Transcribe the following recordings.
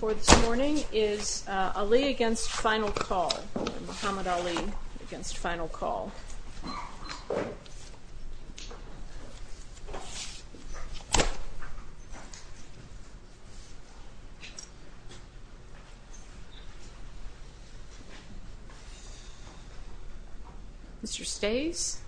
For this morning is Ali v. Final Call, and Muhammad Ali v. Final Call. Mr. Stays.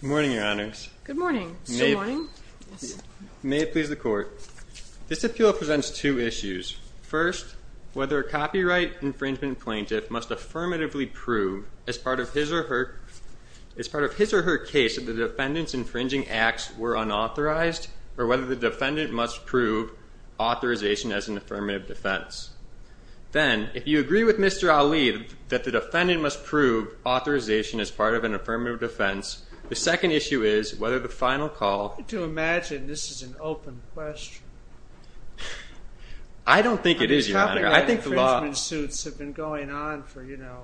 Good morning, Your Honors. Good morning. Good morning. May it please the Court, this appeal presents two issues. First, whether a copyright infringement plaintiff must affirmatively prove, as part of his or her case, that the defendant's infringing acts were unauthorized, or whether the defendant must prove authorization as an affirmative defense. Then, if you agree with Mr. Ali that the defendant must prove authorization as part of an affirmative defense, the second issue is whether the Final Call... I don't think it is, Your Honor. I think the law...... infringement suits have been going on for, you know,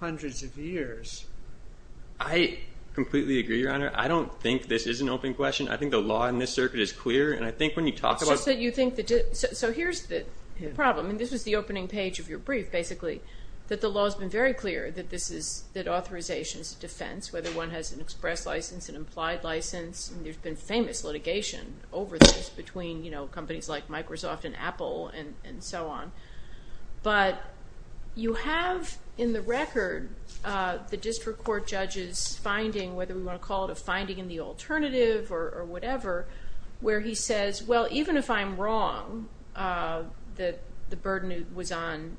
hundreds of years. I completely agree, Your Honor. I don't think this is an open question. I think the law in this circuit is clear, and I think when you talk about... So here's the problem, and this was the opening page of your brief, basically, that the law has been very clear that authorization is a defense, whether one has an express license, an implied license, and there's been famous litigation over this between, you know, companies like Microsoft and Apple and so on. But you have, in the record, the district court judge's finding, whether we want to call it a finding in the alternative or whatever, where he says, well, even if I'm wrong that the burden was on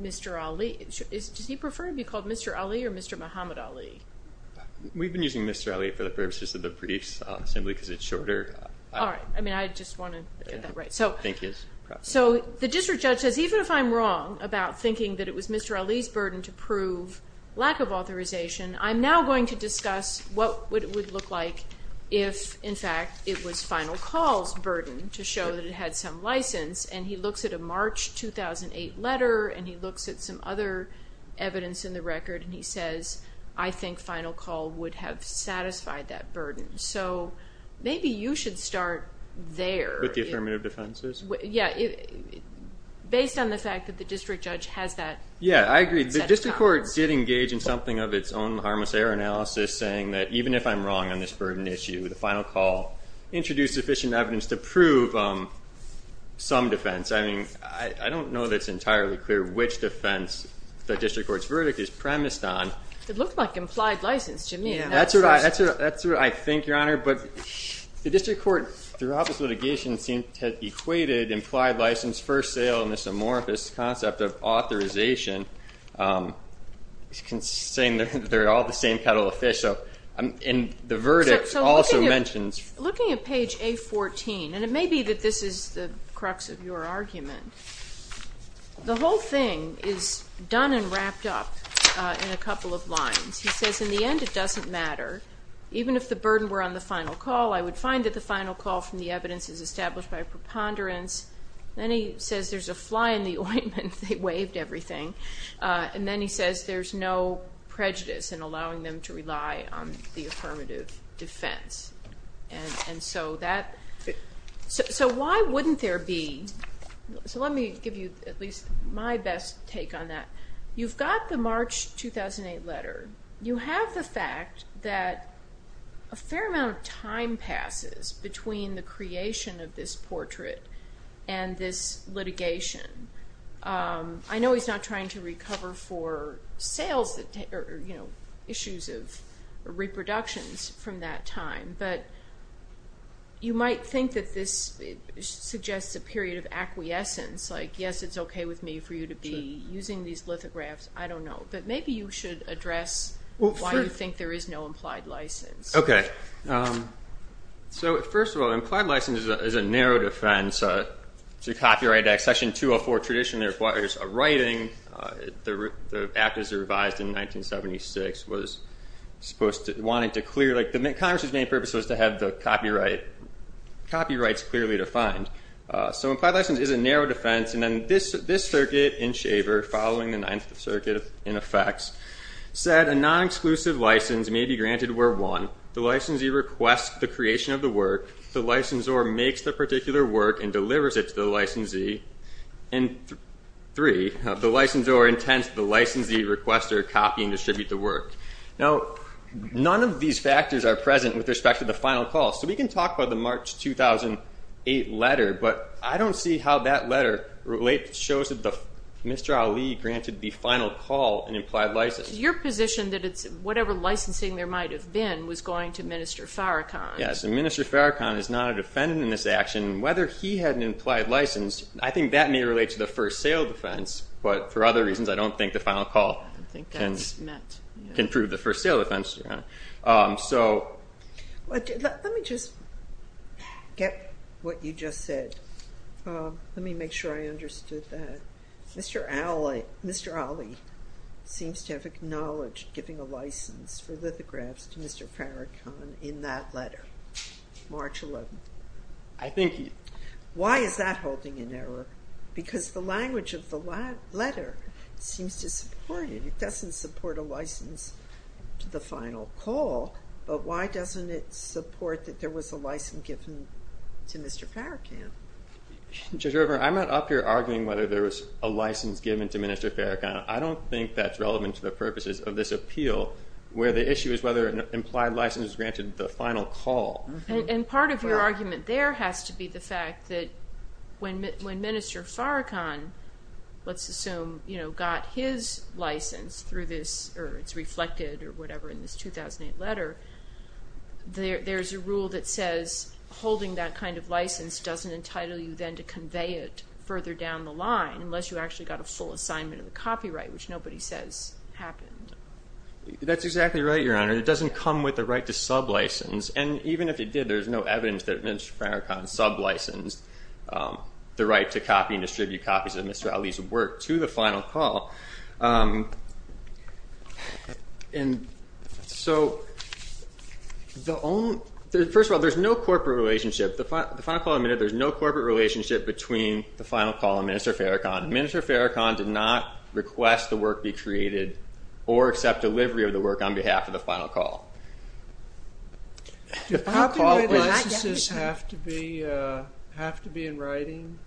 Mr. Ali, does he prefer to be called Mr. Ali or Mr. Muhammad Ali? We've been using Mr. Ali for the purposes of the briefs assembly because it's shorter. All right. I mean, I just want to get that right. I think it's proper. So the district judge says, even if I'm wrong about thinking that it was Mr. Ali's burden to prove lack of authorization, I'm now going to discuss what it would look like if, in fact, it was Final Call's burden to show that it had some license. And he looks at a March 2008 letter, and he looks at some other evidence in the record, and he says, I think Final Call would have satisfied that burden. So maybe you should start there. With the affirmative defenses? Yeah. Based on the fact that the district judge has that set of comments. Yeah, I agree. The district court did engage in something of its own harmless error analysis, saying that even if I'm wrong on this burden issue, the Final Call introduced sufficient evidence to prove some defense. I mean, I don't know that it's entirely clear which defense the district court's verdict is premised on. It looked like implied license to me. That's what I think, Your Honor. But the district court, throughout this litigation, seemed to have equated implied license, first sale, and this amorphous concept of authorization, saying they're all the same kettle of fish. And the verdict also mentions ---- So looking at page A14, and it may be that this is the crux of your argument, the whole thing is done and wrapped up in a couple of lines. He says, in the end, it doesn't matter. Even if the burden were on the Final Call, I would find that the Final Call from the evidence is established by preponderance. Then he says there's a fly in the ointment. They waived everything. And then he says there's no prejudice in allowing them to rely on the affirmative defense. And so that ---- So why wouldn't there be ---- So let me give you at least my best take on that. You've got the March 2008 letter. You have the fact that a fair amount of time passes between the creation of this portrait and this litigation. I know he's not trying to recover for issues of reproductions from that time, but you might think that this suggests a period of acquiescence, like, yes, it's okay with me for you to be using these lithographs. I don't know. But maybe you should address why you think there is no implied license. Okay. So first of all, implied license is a narrow defense. It's a copyright act. Section 204 traditionally requires a writing. The Act, as it revised in 1976, was supposed to ---- Congress's main purpose was to have the copyrights clearly defined. So implied license is a narrow defense. And then this circuit in Shaver, following the Ninth Circuit in effect, said a non-exclusive license may be granted where, one, the licensee requests the creation of the work, the licensor makes the particular work and delivers it to the licensee, and, three, the licensor intends the licensee request or copy and distribute the work. Now, none of these factors are present with respect to the final call. So we can talk about the March 2008 letter, but I don't see how that letter shows that Mr. Ali granted the final call an implied license. Your position that it's whatever licensing there might have been was going to Minister Farrakhan. Yes, and Minister Farrakhan is not a defendant in this action. Whether he had an implied license, I think that may relate to the first sale defense. But for other reasons, I don't think the final call can prove the first sale defense. Let me just get what you just said. Let me make sure I understood that. Mr. Ali seems to have acknowledged giving a license for lithographs to Mr. Farrakhan in that letter, March 11. Why is that holding in error? Because the language of the letter seems to support it. It doesn't support a license to the final call, but why doesn't it support that there was a license given to Mr. Farrakhan? Judge River, I'm not up here arguing whether there was a license given to Minister Farrakhan. I don't think that's relevant to the purposes of this appeal, where the issue is whether an implied license is granted at the final call. And part of your argument there has to be the fact that when Minister Farrakhan, let's assume, got his license through this or it's reflected or whatever in this 2008 letter, there's a rule that says holding that kind of license doesn't entitle you then to convey it further down the line unless you actually got a full assignment of the copyright, which nobody says happened. That's exactly right, Your Honor. It doesn't come with the right to sublicense. And even if it did, there's no evidence that Minister Farrakhan sublicensed the right to copy and distribute copies of Mr. Ali's work to the final call. So first of all, there's no corporate relationship. The final call admitted there's no corporate relationship between the final call and Minister Farrakhan. Minister Farrakhan did not request the work be created or accept delivery of the work on behalf of the final call. Do copyright licenses have to be in writing?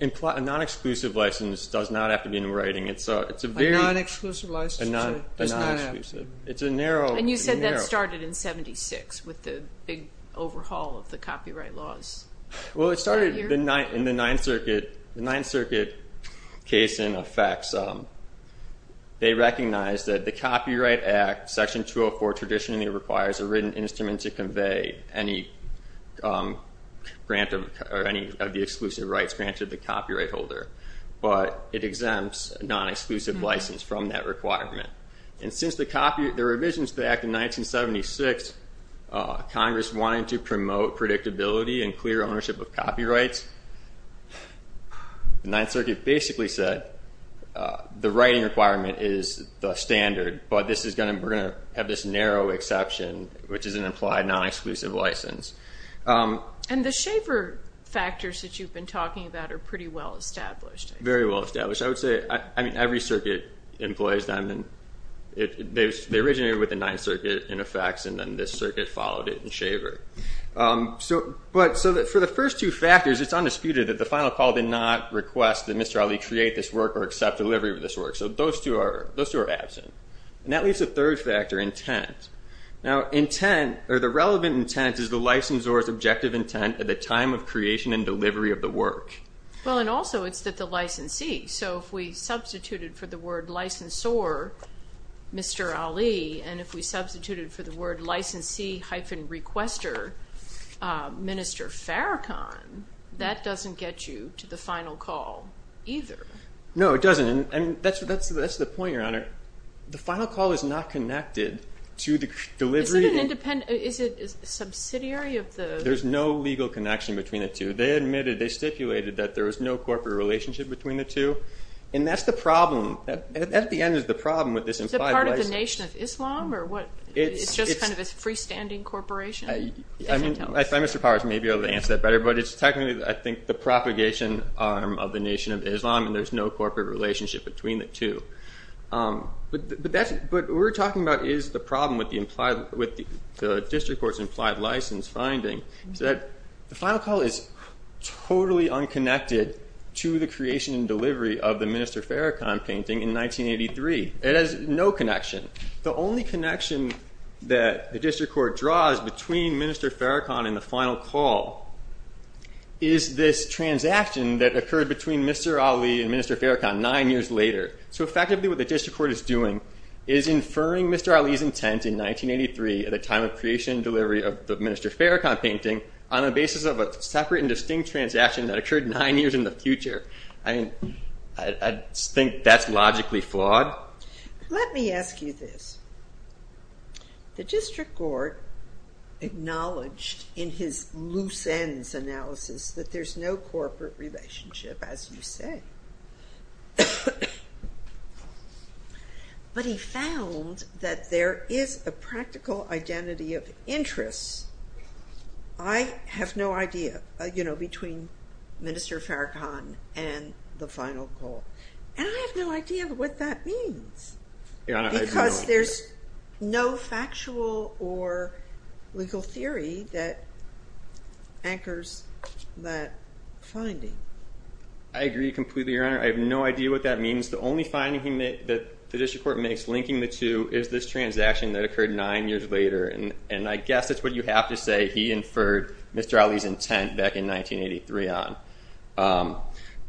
A non-exclusive license does not have to be in writing. A non-exclusive license does not have to be in writing. And you said that started in 1976 with the big overhaul of the copyright laws. Well, it started in the Ninth Circuit case in effect. They recognized that the Copyright Act, Section 204, traditionally requires a written instrument to convey any of the exclusive rights granted to the copyright holder. But it exempts a non-exclusive license from that requirement. And since the revisions to the Act in 1976, Congress wanted to promote predictability and clear ownership of copyrights. The Ninth Circuit basically said the writing requirement is the standard, but we're going to have this narrow exception, which is an implied non-exclusive license. And the Shaver factors that you've been talking about are pretty well established. Very well established. I would say every circuit employs them. They originated with the Ninth Circuit in effect, and then this circuit followed it in Shaver. But for the first two factors, it's undisputed that the final call did not request that Mr. Ali create this work or accept delivery of this work. So those two are absent. And that leaves the third factor, intent. Now, intent, or the relevant intent, is the licensor's objective intent at the time of creation and delivery of the work. Well, and also it's that the licensee. So if we substituted for the word licensor, Mr. Ali, and if we substituted for the word licensee-requester, Minister Farrakhan, that doesn't get you to the final call either. No, it doesn't. And that's the point, Your Honor. The final call is not connected to the delivery. Is it subsidiary of the? There's no legal connection between the two. They admitted, they stipulated that there was no corporate relationship between the two. And that's the problem. At the end is the problem with this implied license. Is it part of the Nation of Islam, or what? It's just kind of a freestanding corporation? I find Mr. Powers may be able to answer that better, but it's technically, I think, the propagation arm of the Nation of Islam, and there's no corporate relationship between the two. But what we're talking about is the problem with the district court's implied license finding, is that the final call is totally unconnected to the creation and delivery of the Minister Farrakhan painting in 1983. It has no connection. The only connection that the district court draws between Minister Farrakhan and the final call is this transaction that occurred between Mr. Ali and Minister Farrakhan nine years later. So effectively what the district court is doing is inferring Mr. Ali's intent in 1983 at the time of creation and delivery of the Minister Farrakhan painting on the basis of a separate and distinct transaction that occurred nine years in the future. I think that's logically flawed. Let me ask you this. The district court acknowledged in his loose ends analysis that there's no corporate relationship, as you say. But he found that there is a practical identity of interest. I have no idea, you know, between Minister Farrakhan and the final call. And I have no idea what that means. Because there's no factual or legal theory that anchors that finding. I agree completely, Your Honor. I have no idea what that means. The only finding that the district court makes linking the two is this transaction that occurred nine years later. And I guess that's what you have to say. He inferred Mr. Ali's intent back in 1983 on.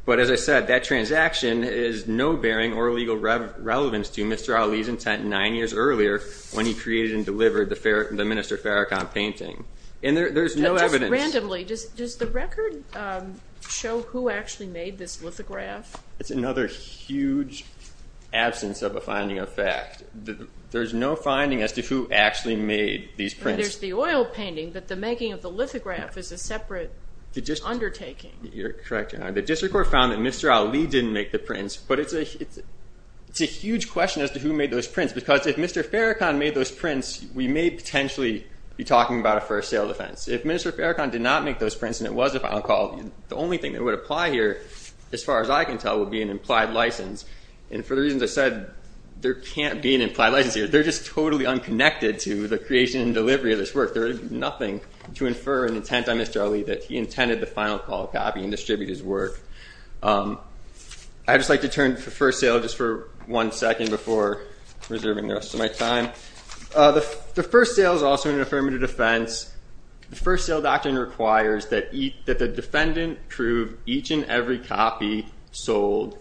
But as I said, that transaction is no bearing or legal relevance to Mr. Ali's intent nine years earlier when he created and delivered the Minister Farrakhan painting. And there's no evidence. Just randomly, does the record show who actually made this lithograph? It's another huge absence of a finding of fact. There's no finding as to who actually made these prints. There's the oil painting, but the making of the lithograph is a separate undertaking. You're correct, Your Honor. The district court found that Mr. Ali didn't make the prints. But it's a huge question as to who made those prints. Because if Mr. Farrakhan made those prints, we may potentially be talking about a first sale offense. If Mr. Farrakhan did not make those prints and it was a final call, the only thing that would apply here, as far as I can tell, would be an implied license. And for the reasons I said, there can't be an implied license here. They're just totally unconnected to the creation and delivery of this work. There is nothing to infer an intent on Mr. Ali that he intended the final call copy and distribute his work. I'd just like to turn to the first sale just for one second before reserving the rest of my time. The first sale is also an affirmative defense. The first sale doctrine requires that the defendant prove each and every copy sold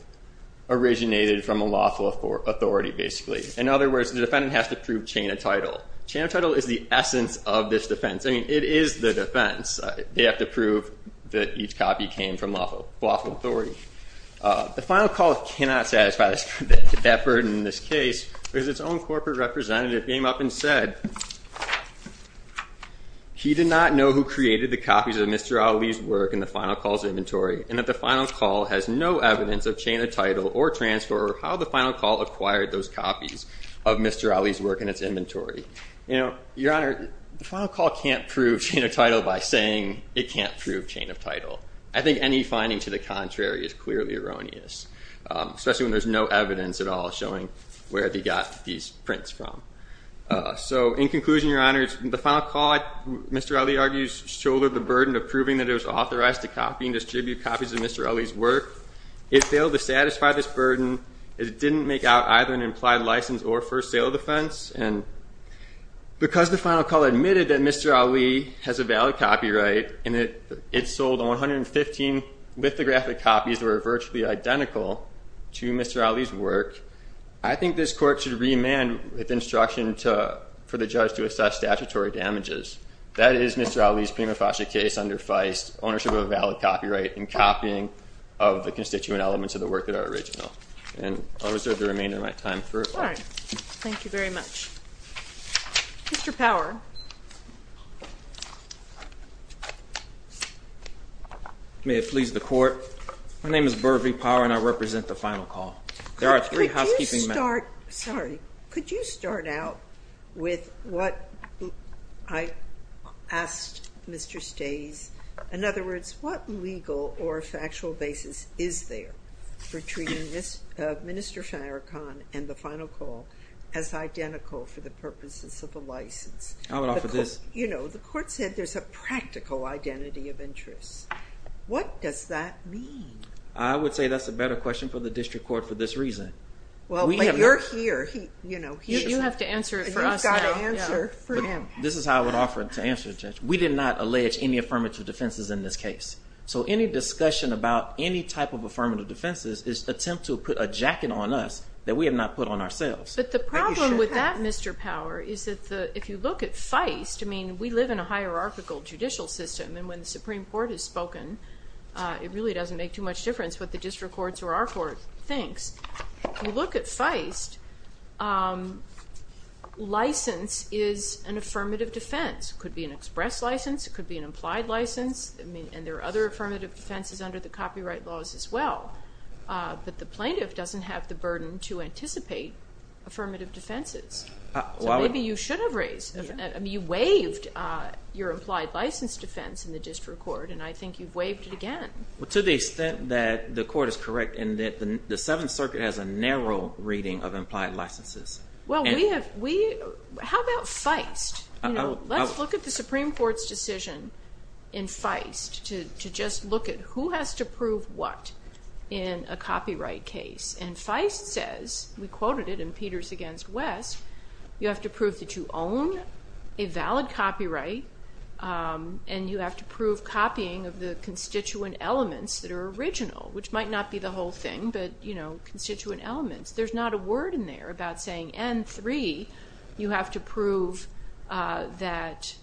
originated from a lawful authority, basically. In other words, the defendant has to prove chain of title. Chain of title is the essence of this defense. I mean, it is the defense. They have to prove that each copy came from a lawful authority. The final call cannot satisfy that burden in this case because its own corporate representative came up and said he did not know who created the copies of Mr. Ali's work in the final call's inventory and that the final call has no evidence of chain of title or transfer or how the final call acquired those copies of Mr. Ali's work in its inventory. Your Honor, the final call can't prove chain of title by saying it can't prove chain of title. I think any finding to the contrary is clearly erroneous, especially when there's no evidence at all showing where they got these prints from. So in conclusion, Your Honor, the final call, Mr. Ali argues, shouldered the burden of proving that it was authorized to copy and distribute copies of Mr. Ali's work. It failed to satisfy this burden as it didn't make out either an implied license or first sale defense. And because the final call admitted that Mr. Ali has a valid copyright and it sold 115 lithographic copies that were virtually identical to Mr. Ali's work, I think this court should remand with instruction for the judge to assess statutory damages. That is Mr. Ali's prima facie case under Feist, ownership of a valid copyright and copying of the constituent elements of the work that are original. And I'll reserve the remainder of my time for it. All right. Thank you very much. Mr. Power. May it please the Court, my name is Burvey Power and I represent the final call. There are three housekeeping matters. Sorry, could you start out with what I asked Mr. Stays? In other words, what legal or factual basis is there for treating Mr. Farrakhan and the final call as identical for the purposes of a license? I would offer this. You know, the court said there's a practical identity of interest. What does that mean? I would say that's a better question for the district court for this reason. Well, you're here, you know. You have to answer it for us now. You've got to answer for him. This is how I would offer to answer it, Judge. We did not allege any affirmative defenses in this case. So any discussion about any type of affirmative defenses is an attempt to put a jacket on us that we have not put on ourselves. But the problem with that, Mr. Power, is that if you look at Feist, I mean, we live in a hierarchical judicial system and when the Supreme Court has spoken, it really doesn't make too much difference what the district courts or our court thinks. If you look at Feist, license is an affirmative defense. It could be an express license, it could be an implied license, and there are other affirmative defenses under the copyright laws as well. But the plaintiff doesn't have the burden to anticipate affirmative defenses. So maybe you should have raised. I mean, you waived your implied license defense in the district court and I think you've waived it again. Well, to the extent that the court is correct and that the Seventh Circuit has a narrow reading of implied licenses. How about Feist? Let's look at the Supreme Court's decision in Feist to just look at who has to prove what in a copyright case. And Feist says, we quoted it in Peters v. West, you have to prove that you own a valid copyright and you have to prove copying of the constituent elements that are original, which might not be the whole thing, but constituent elements. There's not a word in there about saying, and three, you have to prove that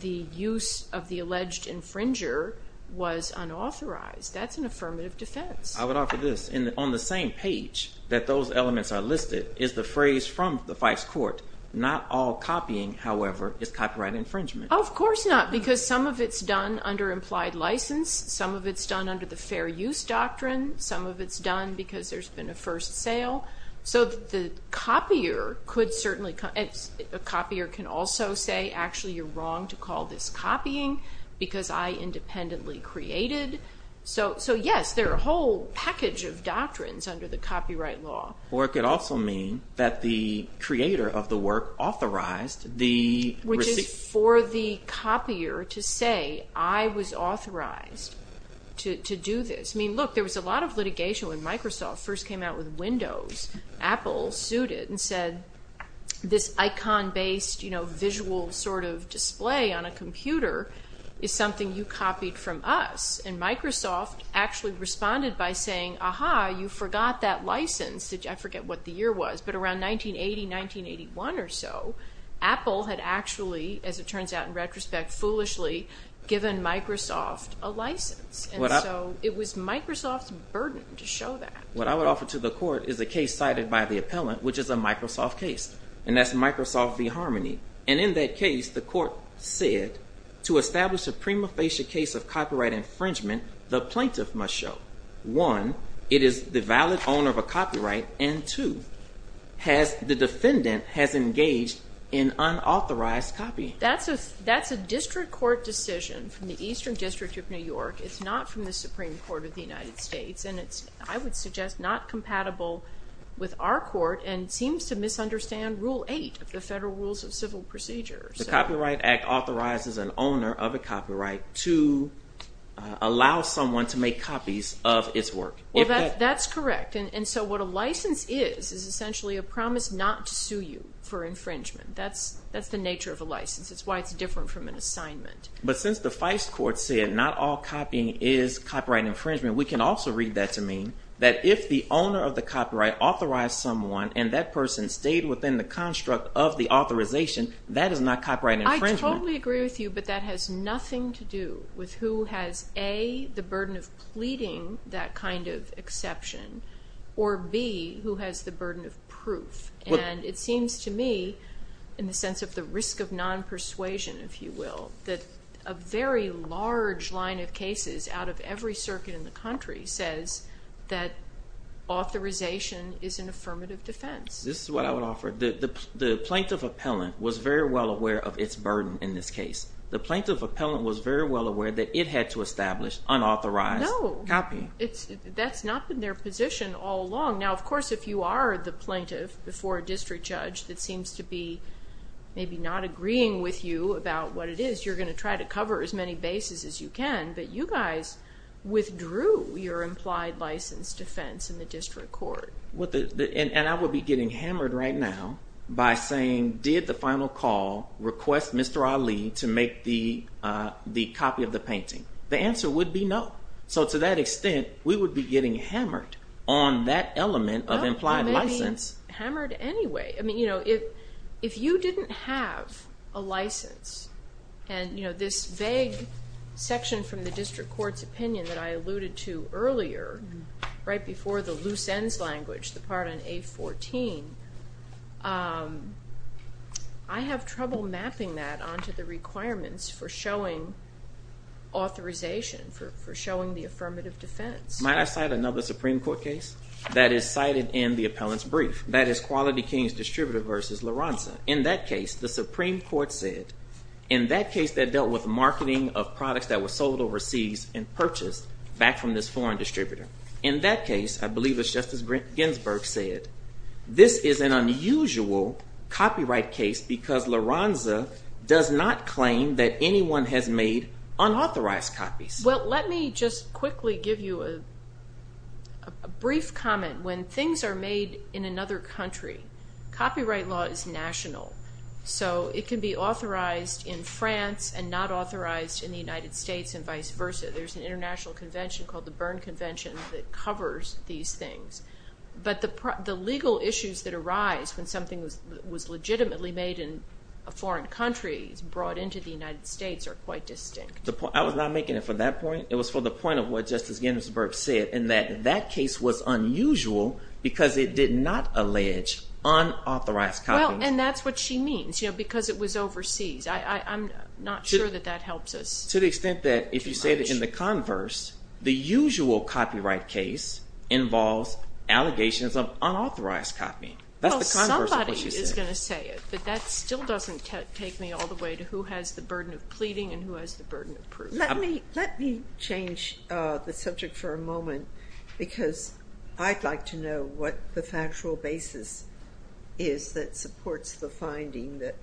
the use of the alleged infringer was unauthorized. That's an affirmative defense. I would offer this. On the same page that those elements are listed is the phrase from the Feist court, not all copying, however, is copyright infringement. Of course not, because some of it's done under implied license. Some of it's done under the fair use doctrine. Some of it's done because there's been a first sale. So the copier could certainly, a copier can also say, actually you're wrong to call this copying because I independently created. So yes, there are a whole package of doctrines under the copyright law. Or it could also mean that the creator of the work authorized the receipt. Which is for the copier to say, I was authorized to do this. I mean, look, there was a lot of litigation when Microsoft first came out with Windows. Apple sued it and said, this icon-based visual sort of display on a computer is something you copied from us. And Microsoft actually responded by saying, aha, you forgot that license. I forget what the year was, but around 1980, 1981 or so, Apple had actually, as it turns out in retrospect, foolishly given Microsoft a license. And so it was Microsoft's burden to show that. What I would offer to the court is a case cited by the appellant, which is a Microsoft case. And that's Microsoft v. Harmony. And in that case, the court said, to establish a prima facie case of copyright infringement, the plaintiff must show, one, it is the valid owner of a copyright, and two, the defendant has engaged in unauthorized copying. That's a district court decision from the Eastern District of New York. It's not from the Supreme Court of the United States. And it's, I would suggest, not compatible with our court and seems to misunderstand Rule 8 of the Federal Rules of Civil Procedure. The Copyright Act authorizes an owner of a copyright to allow someone to make copies of its work. That's correct. And so what a license is is essentially a promise not to sue you for infringement. That's the nature of a license. It's why it's different from an assignment. But since the FISE court said not all copying is copyright infringement, we can also read that to mean that if the owner of the copyright authorized someone and that person stayed within the construct of the authorization, that is not copyright infringement. I totally agree with you, but that has nothing to do with who has, A, the burden of pleading that kind of exception, or, B, who has the burden of proof. And it seems to me, in the sense of the risk of non-persuasion, if you will, that a very large line of cases out of every circuit in the country says that authorization is an affirmative defense. This is what I would offer. The plaintiff appellant was very well aware of its burden in this case. The plaintiff appellant was very well aware that it had to establish unauthorized copying. No, that's not been their position all along. Now, of course, if you are the plaintiff before a district judge that seems to be maybe not agreeing with you about what it is, you're going to try to cover as many bases as you can. But you guys withdrew your implied license defense in the district court. And I would be getting hammered right now by saying, did the final call request Mr. Ali to make the copy of the painting? The answer would be no. So to that extent, we would be getting hammered on that element of implied license. Well, that means hammered anyway. If you didn't have a license, and this vague section from the district court's opinion that I alluded to earlier, right before the loose ends language, the part on A14, I have trouble mapping that onto the requirements for showing authorization, for showing the affirmative defense. Might I cite another Supreme Court case that is cited in the appellant's brief? That is Quality Kings Distributor v. La Ronza. In that case, the Supreme Court said, in that case that dealt with marketing of products that were sold overseas and purchased back from this foreign distributor. In that case, I believe it's Justice Ginsburg said, this is an unusual copyright case because La Ronza does not claim that anyone has made unauthorized copies. Well, let me just quickly give you a brief comment. When things are made in another country, copyright law is national. So it can be authorized in France and not authorized in the United States and vice versa. There's an international convention called the Berne Convention that covers these things. But the legal issues that arise when something was legitimately made in a foreign country brought into the United States are quite distinct. I was not making it for that point. It was for the point of what Justice Ginsburg said, and that that case was unusual because it did not allege unauthorized copies. Well, and that's what she means, because it was overseas. I'm not sure that that helps us. To the extent that if you say it in the converse, the usual copyright case involves allegations of unauthorized copying. That's the converse of what she said. Well, somebody is going to say it, but that still doesn't take me all the way to who has the burden of pleading and who has the burden of proof. Let me change the subject for a moment because I'd like to know what the factual basis is that supports the finding that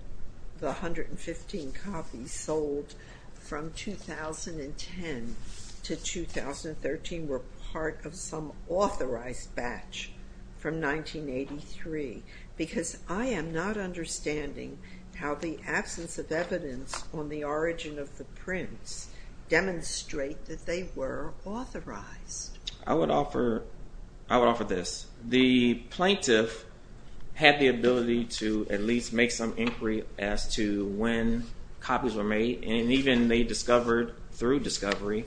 the 115 copies sold from 2010 to 2013 were part of some authorized batch from 1983. Because I am not understanding how the absence of evidence on the origin of the prints demonstrate that they were authorized. I would offer this. The plaintiff had the ability to at least make some inquiry as to when copies were made, and even they discovered through discovery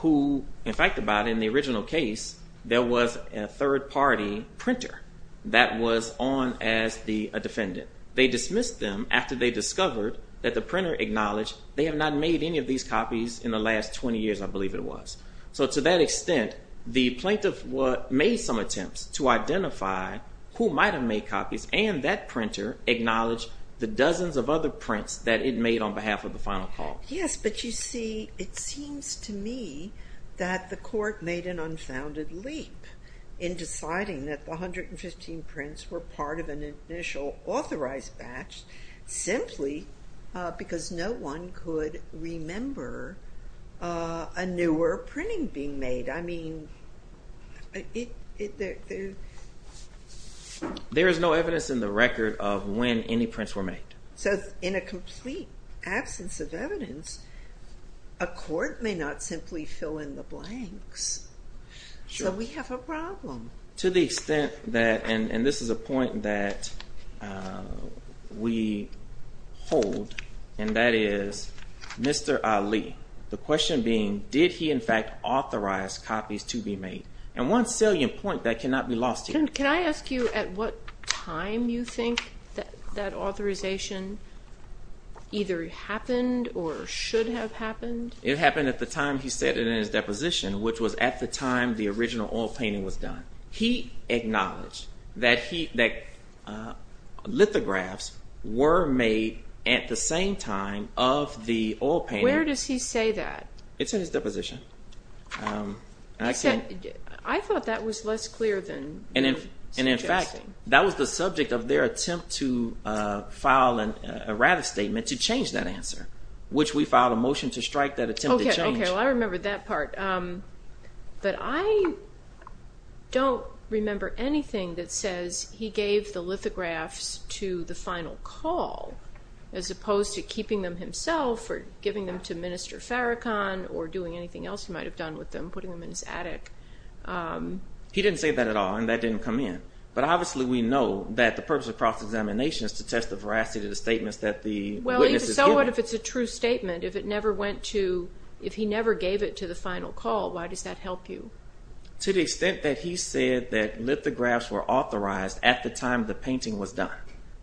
who, in fact, about in the original case, there was a third-party printer that was on as a defendant. They dismissed them after they discovered that the printer acknowledged they had not made any of these copies in the last 20 years, I believe it was. So to that extent, the plaintiff made some attempts to identify who might have made copies, and that printer acknowledged the dozens of other prints that it made on behalf of the final call. Yes, but you see, it seems to me that the court made an unfounded leap in deciding that the 115 prints were part of an initial authorized batch simply because no one could remember a newer printing being made. There is no evidence in the record of when any prints were made. So in a complete absence of evidence, a court may not simply fill in the blanks. So we have a problem. To the extent that, and this is a point that we hold, and that is Mr. Ali, the question being, did he in fact authorize copies to be made? And one salient point that cannot be lost here. Can I ask you at what time you think that authorization either happened or should have happened? It happened at the time he said it in his deposition, which was at the time the original oil painting was done. He acknowledged that lithographs were made at the same time of the oil painting. Where does he say that? It's in his deposition. I thought that was less clear than you're suggesting. And in fact, that was the subject of their attempt to file a rather statement to change that answer, which we filed a motion to strike that attempt to change. Okay, well, I remember that part. But I don't remember anything that says he gave the lithographs to the final call as opposed to keeping them himself or giving them to Minister Farrakhan or doing anything else he might have done with them, putting them in his attic. He didn't say that at all, and that didn't come in. But obviously we know that the purpose of cross-examination is to test the veracity of the statements that the witness is giving. Well, so what if it's a true statement? If he never gave it to the final call, why does that help you? To the extent that he said that lithographs were authorized at the time the painting was done.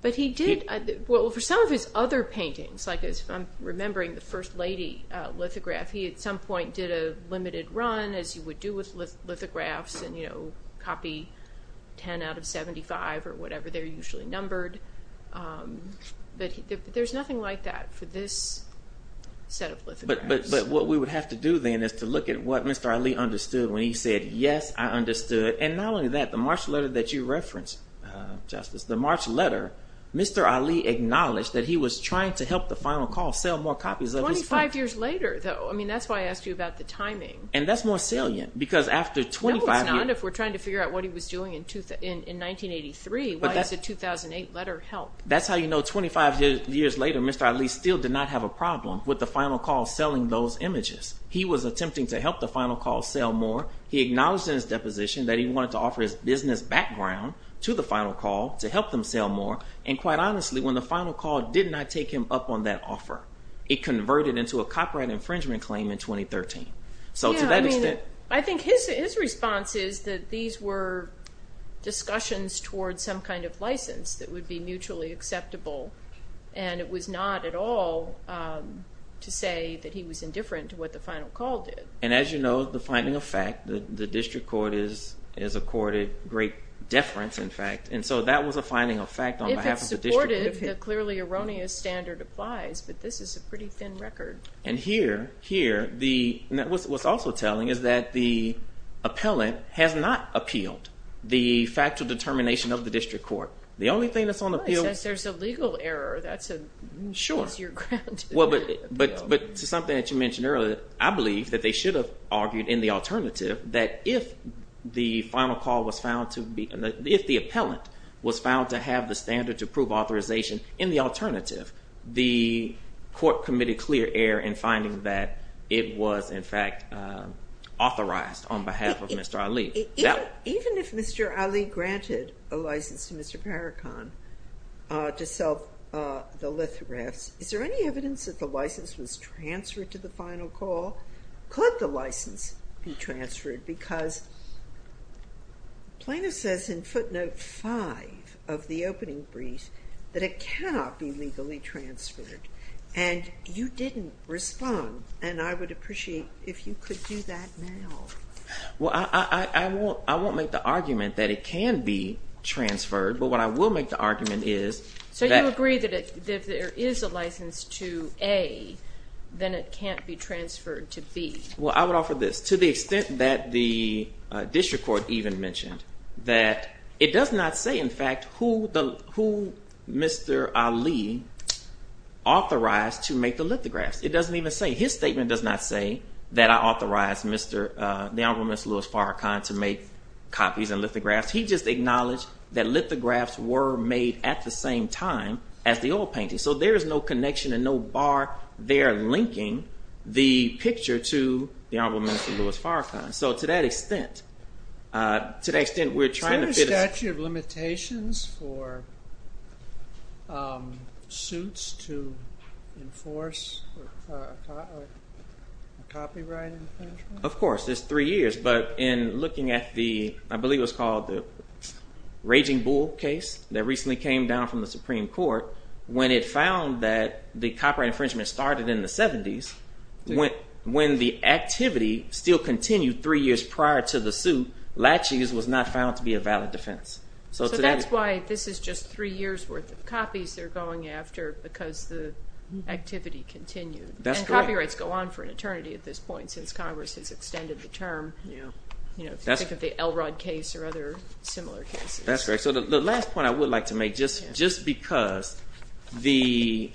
But he did, well, for some of his other paintings, like I'm remembering the First Lady lithograph, he at some point did a limited run, as you would do with lithographs, and, you know, copy 10 out of 75 or whatever they're usually numbered. But there's nothing like that for this set of lithographs. But what we would have to do then is to look at what Mr. Ali understood when he said, yes, I understood. And not only that, the March letter that you referenced, Justice, the March letter, Mr. Ali acknowledged that he was trying to help the final call sell more copies of his painting. Twenty-five years later, though. I mean, that's why I asked you about the timing. And that's more salient because after 25 years... No, it's not. If we're trying to figure out what he was doing in 1983, why is a 2008 letter help? That's how you know 25 years later Mr. Ali still did not have a problem with the final call selling those images. He was attempting to help the final call sell more. He acknowledged in his deposition that he wanted to offer his business background to the final call to help them sell more. And quite honestly, when the final call did not take him up on that offer, it converted into a copyright infringement claim in 2013. So to that extent... Yeah, I mean, I think his response is that these were discussions towards some kind of license that would be mutually acceptable, and it was not at all to say that he was indifferent to what the final call did. And as you know, the finding of fact, the district court has accorded great deference, in fact. And so that was a finding of fact on behalf of the district. If it's supported, the clearly erroneous standard applies, but this is a pretty thin record. And here, what's also telling is that the appellant has not appealed the factual determination of the district court. The only thing that's on appeal... Well, it says there's a legal error. That's your ground to... But to something that you mentioned earlier, I believe that they should have argued in the alternative that if the final call was found to be... If the appellant was found to have the standard to prove authorization in the alternative, the court committed clear error in finding that it was, in fact, authorized on behalf of Mr. Ali. Even if Mr. Ali granted a license to Mr. Parrican to sell the lithographs, is there any evidence that the license was transferred to the final call? Could the license be transferred? Because Plano says in footnote 5 of the opening brief that it cannot be legally transferred, and you didn't respond, and I would appreciate if you could do that now. Well, I won't make the argument that it can be transferred, but what I will make the argument is... So you agree that if there is a license to A, then it can't be transferred to B. Well, I would offer this. To the extent that the district court even mentioned that it does not say, in fact, who Mr. Ali authorized to make the lithographs. It doesn't even say. His statement does not say that I authorized the Honorable Mr. Louis Parrican to make copies and lithographs. He just acknowledged that lithographs were made at the same time as the oil painting. So there is no connection and no bar there linking the picture to the Honorable Mr. Louis Parrican. So to that extent, we're trying to... Is there a statute of limitations for suits to enforce copyright infringement? Of course. It's three years, but in looking at the, I believe it was called the Raging Bull case that recently came down from the Supreme Court, when it found that the copyright infringement started in the 70s, when the activity still continued three years prior to the suit, latching was not found to be a valid defense. So that's why this is just three years' worth of copies they're going after because the activity continued. And copyrights go on for an eternity at this point since Congress has extended the term, if you think of the Elrod case or other similar cases. That's right. So the last point I would like to make, just because the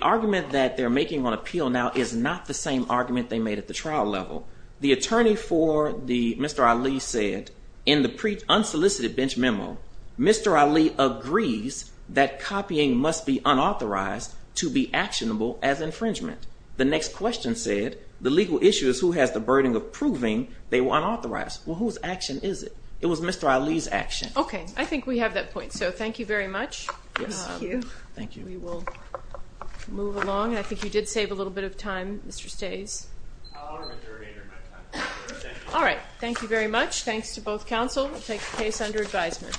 argument that they're making on appeal now is not the same argument they made at the trial level. The attorney for Mr. Ali said, in the unsolicited bench memo, Mr. Ali agrees that copying must be unauthorized to be actionable as infringement. The next question said, the legal issue is who has the burden of proving they were unauthorized. Well, whose action is it? It was Mr. Ali's action. Okay. I think we have that point. So thank you very much. Thank you. Thank you. We will move along. I think you did save a little bit of time, Mr. Stays. All right. Thank you very much. Thanks to both counsel. We'll take the case under advisement.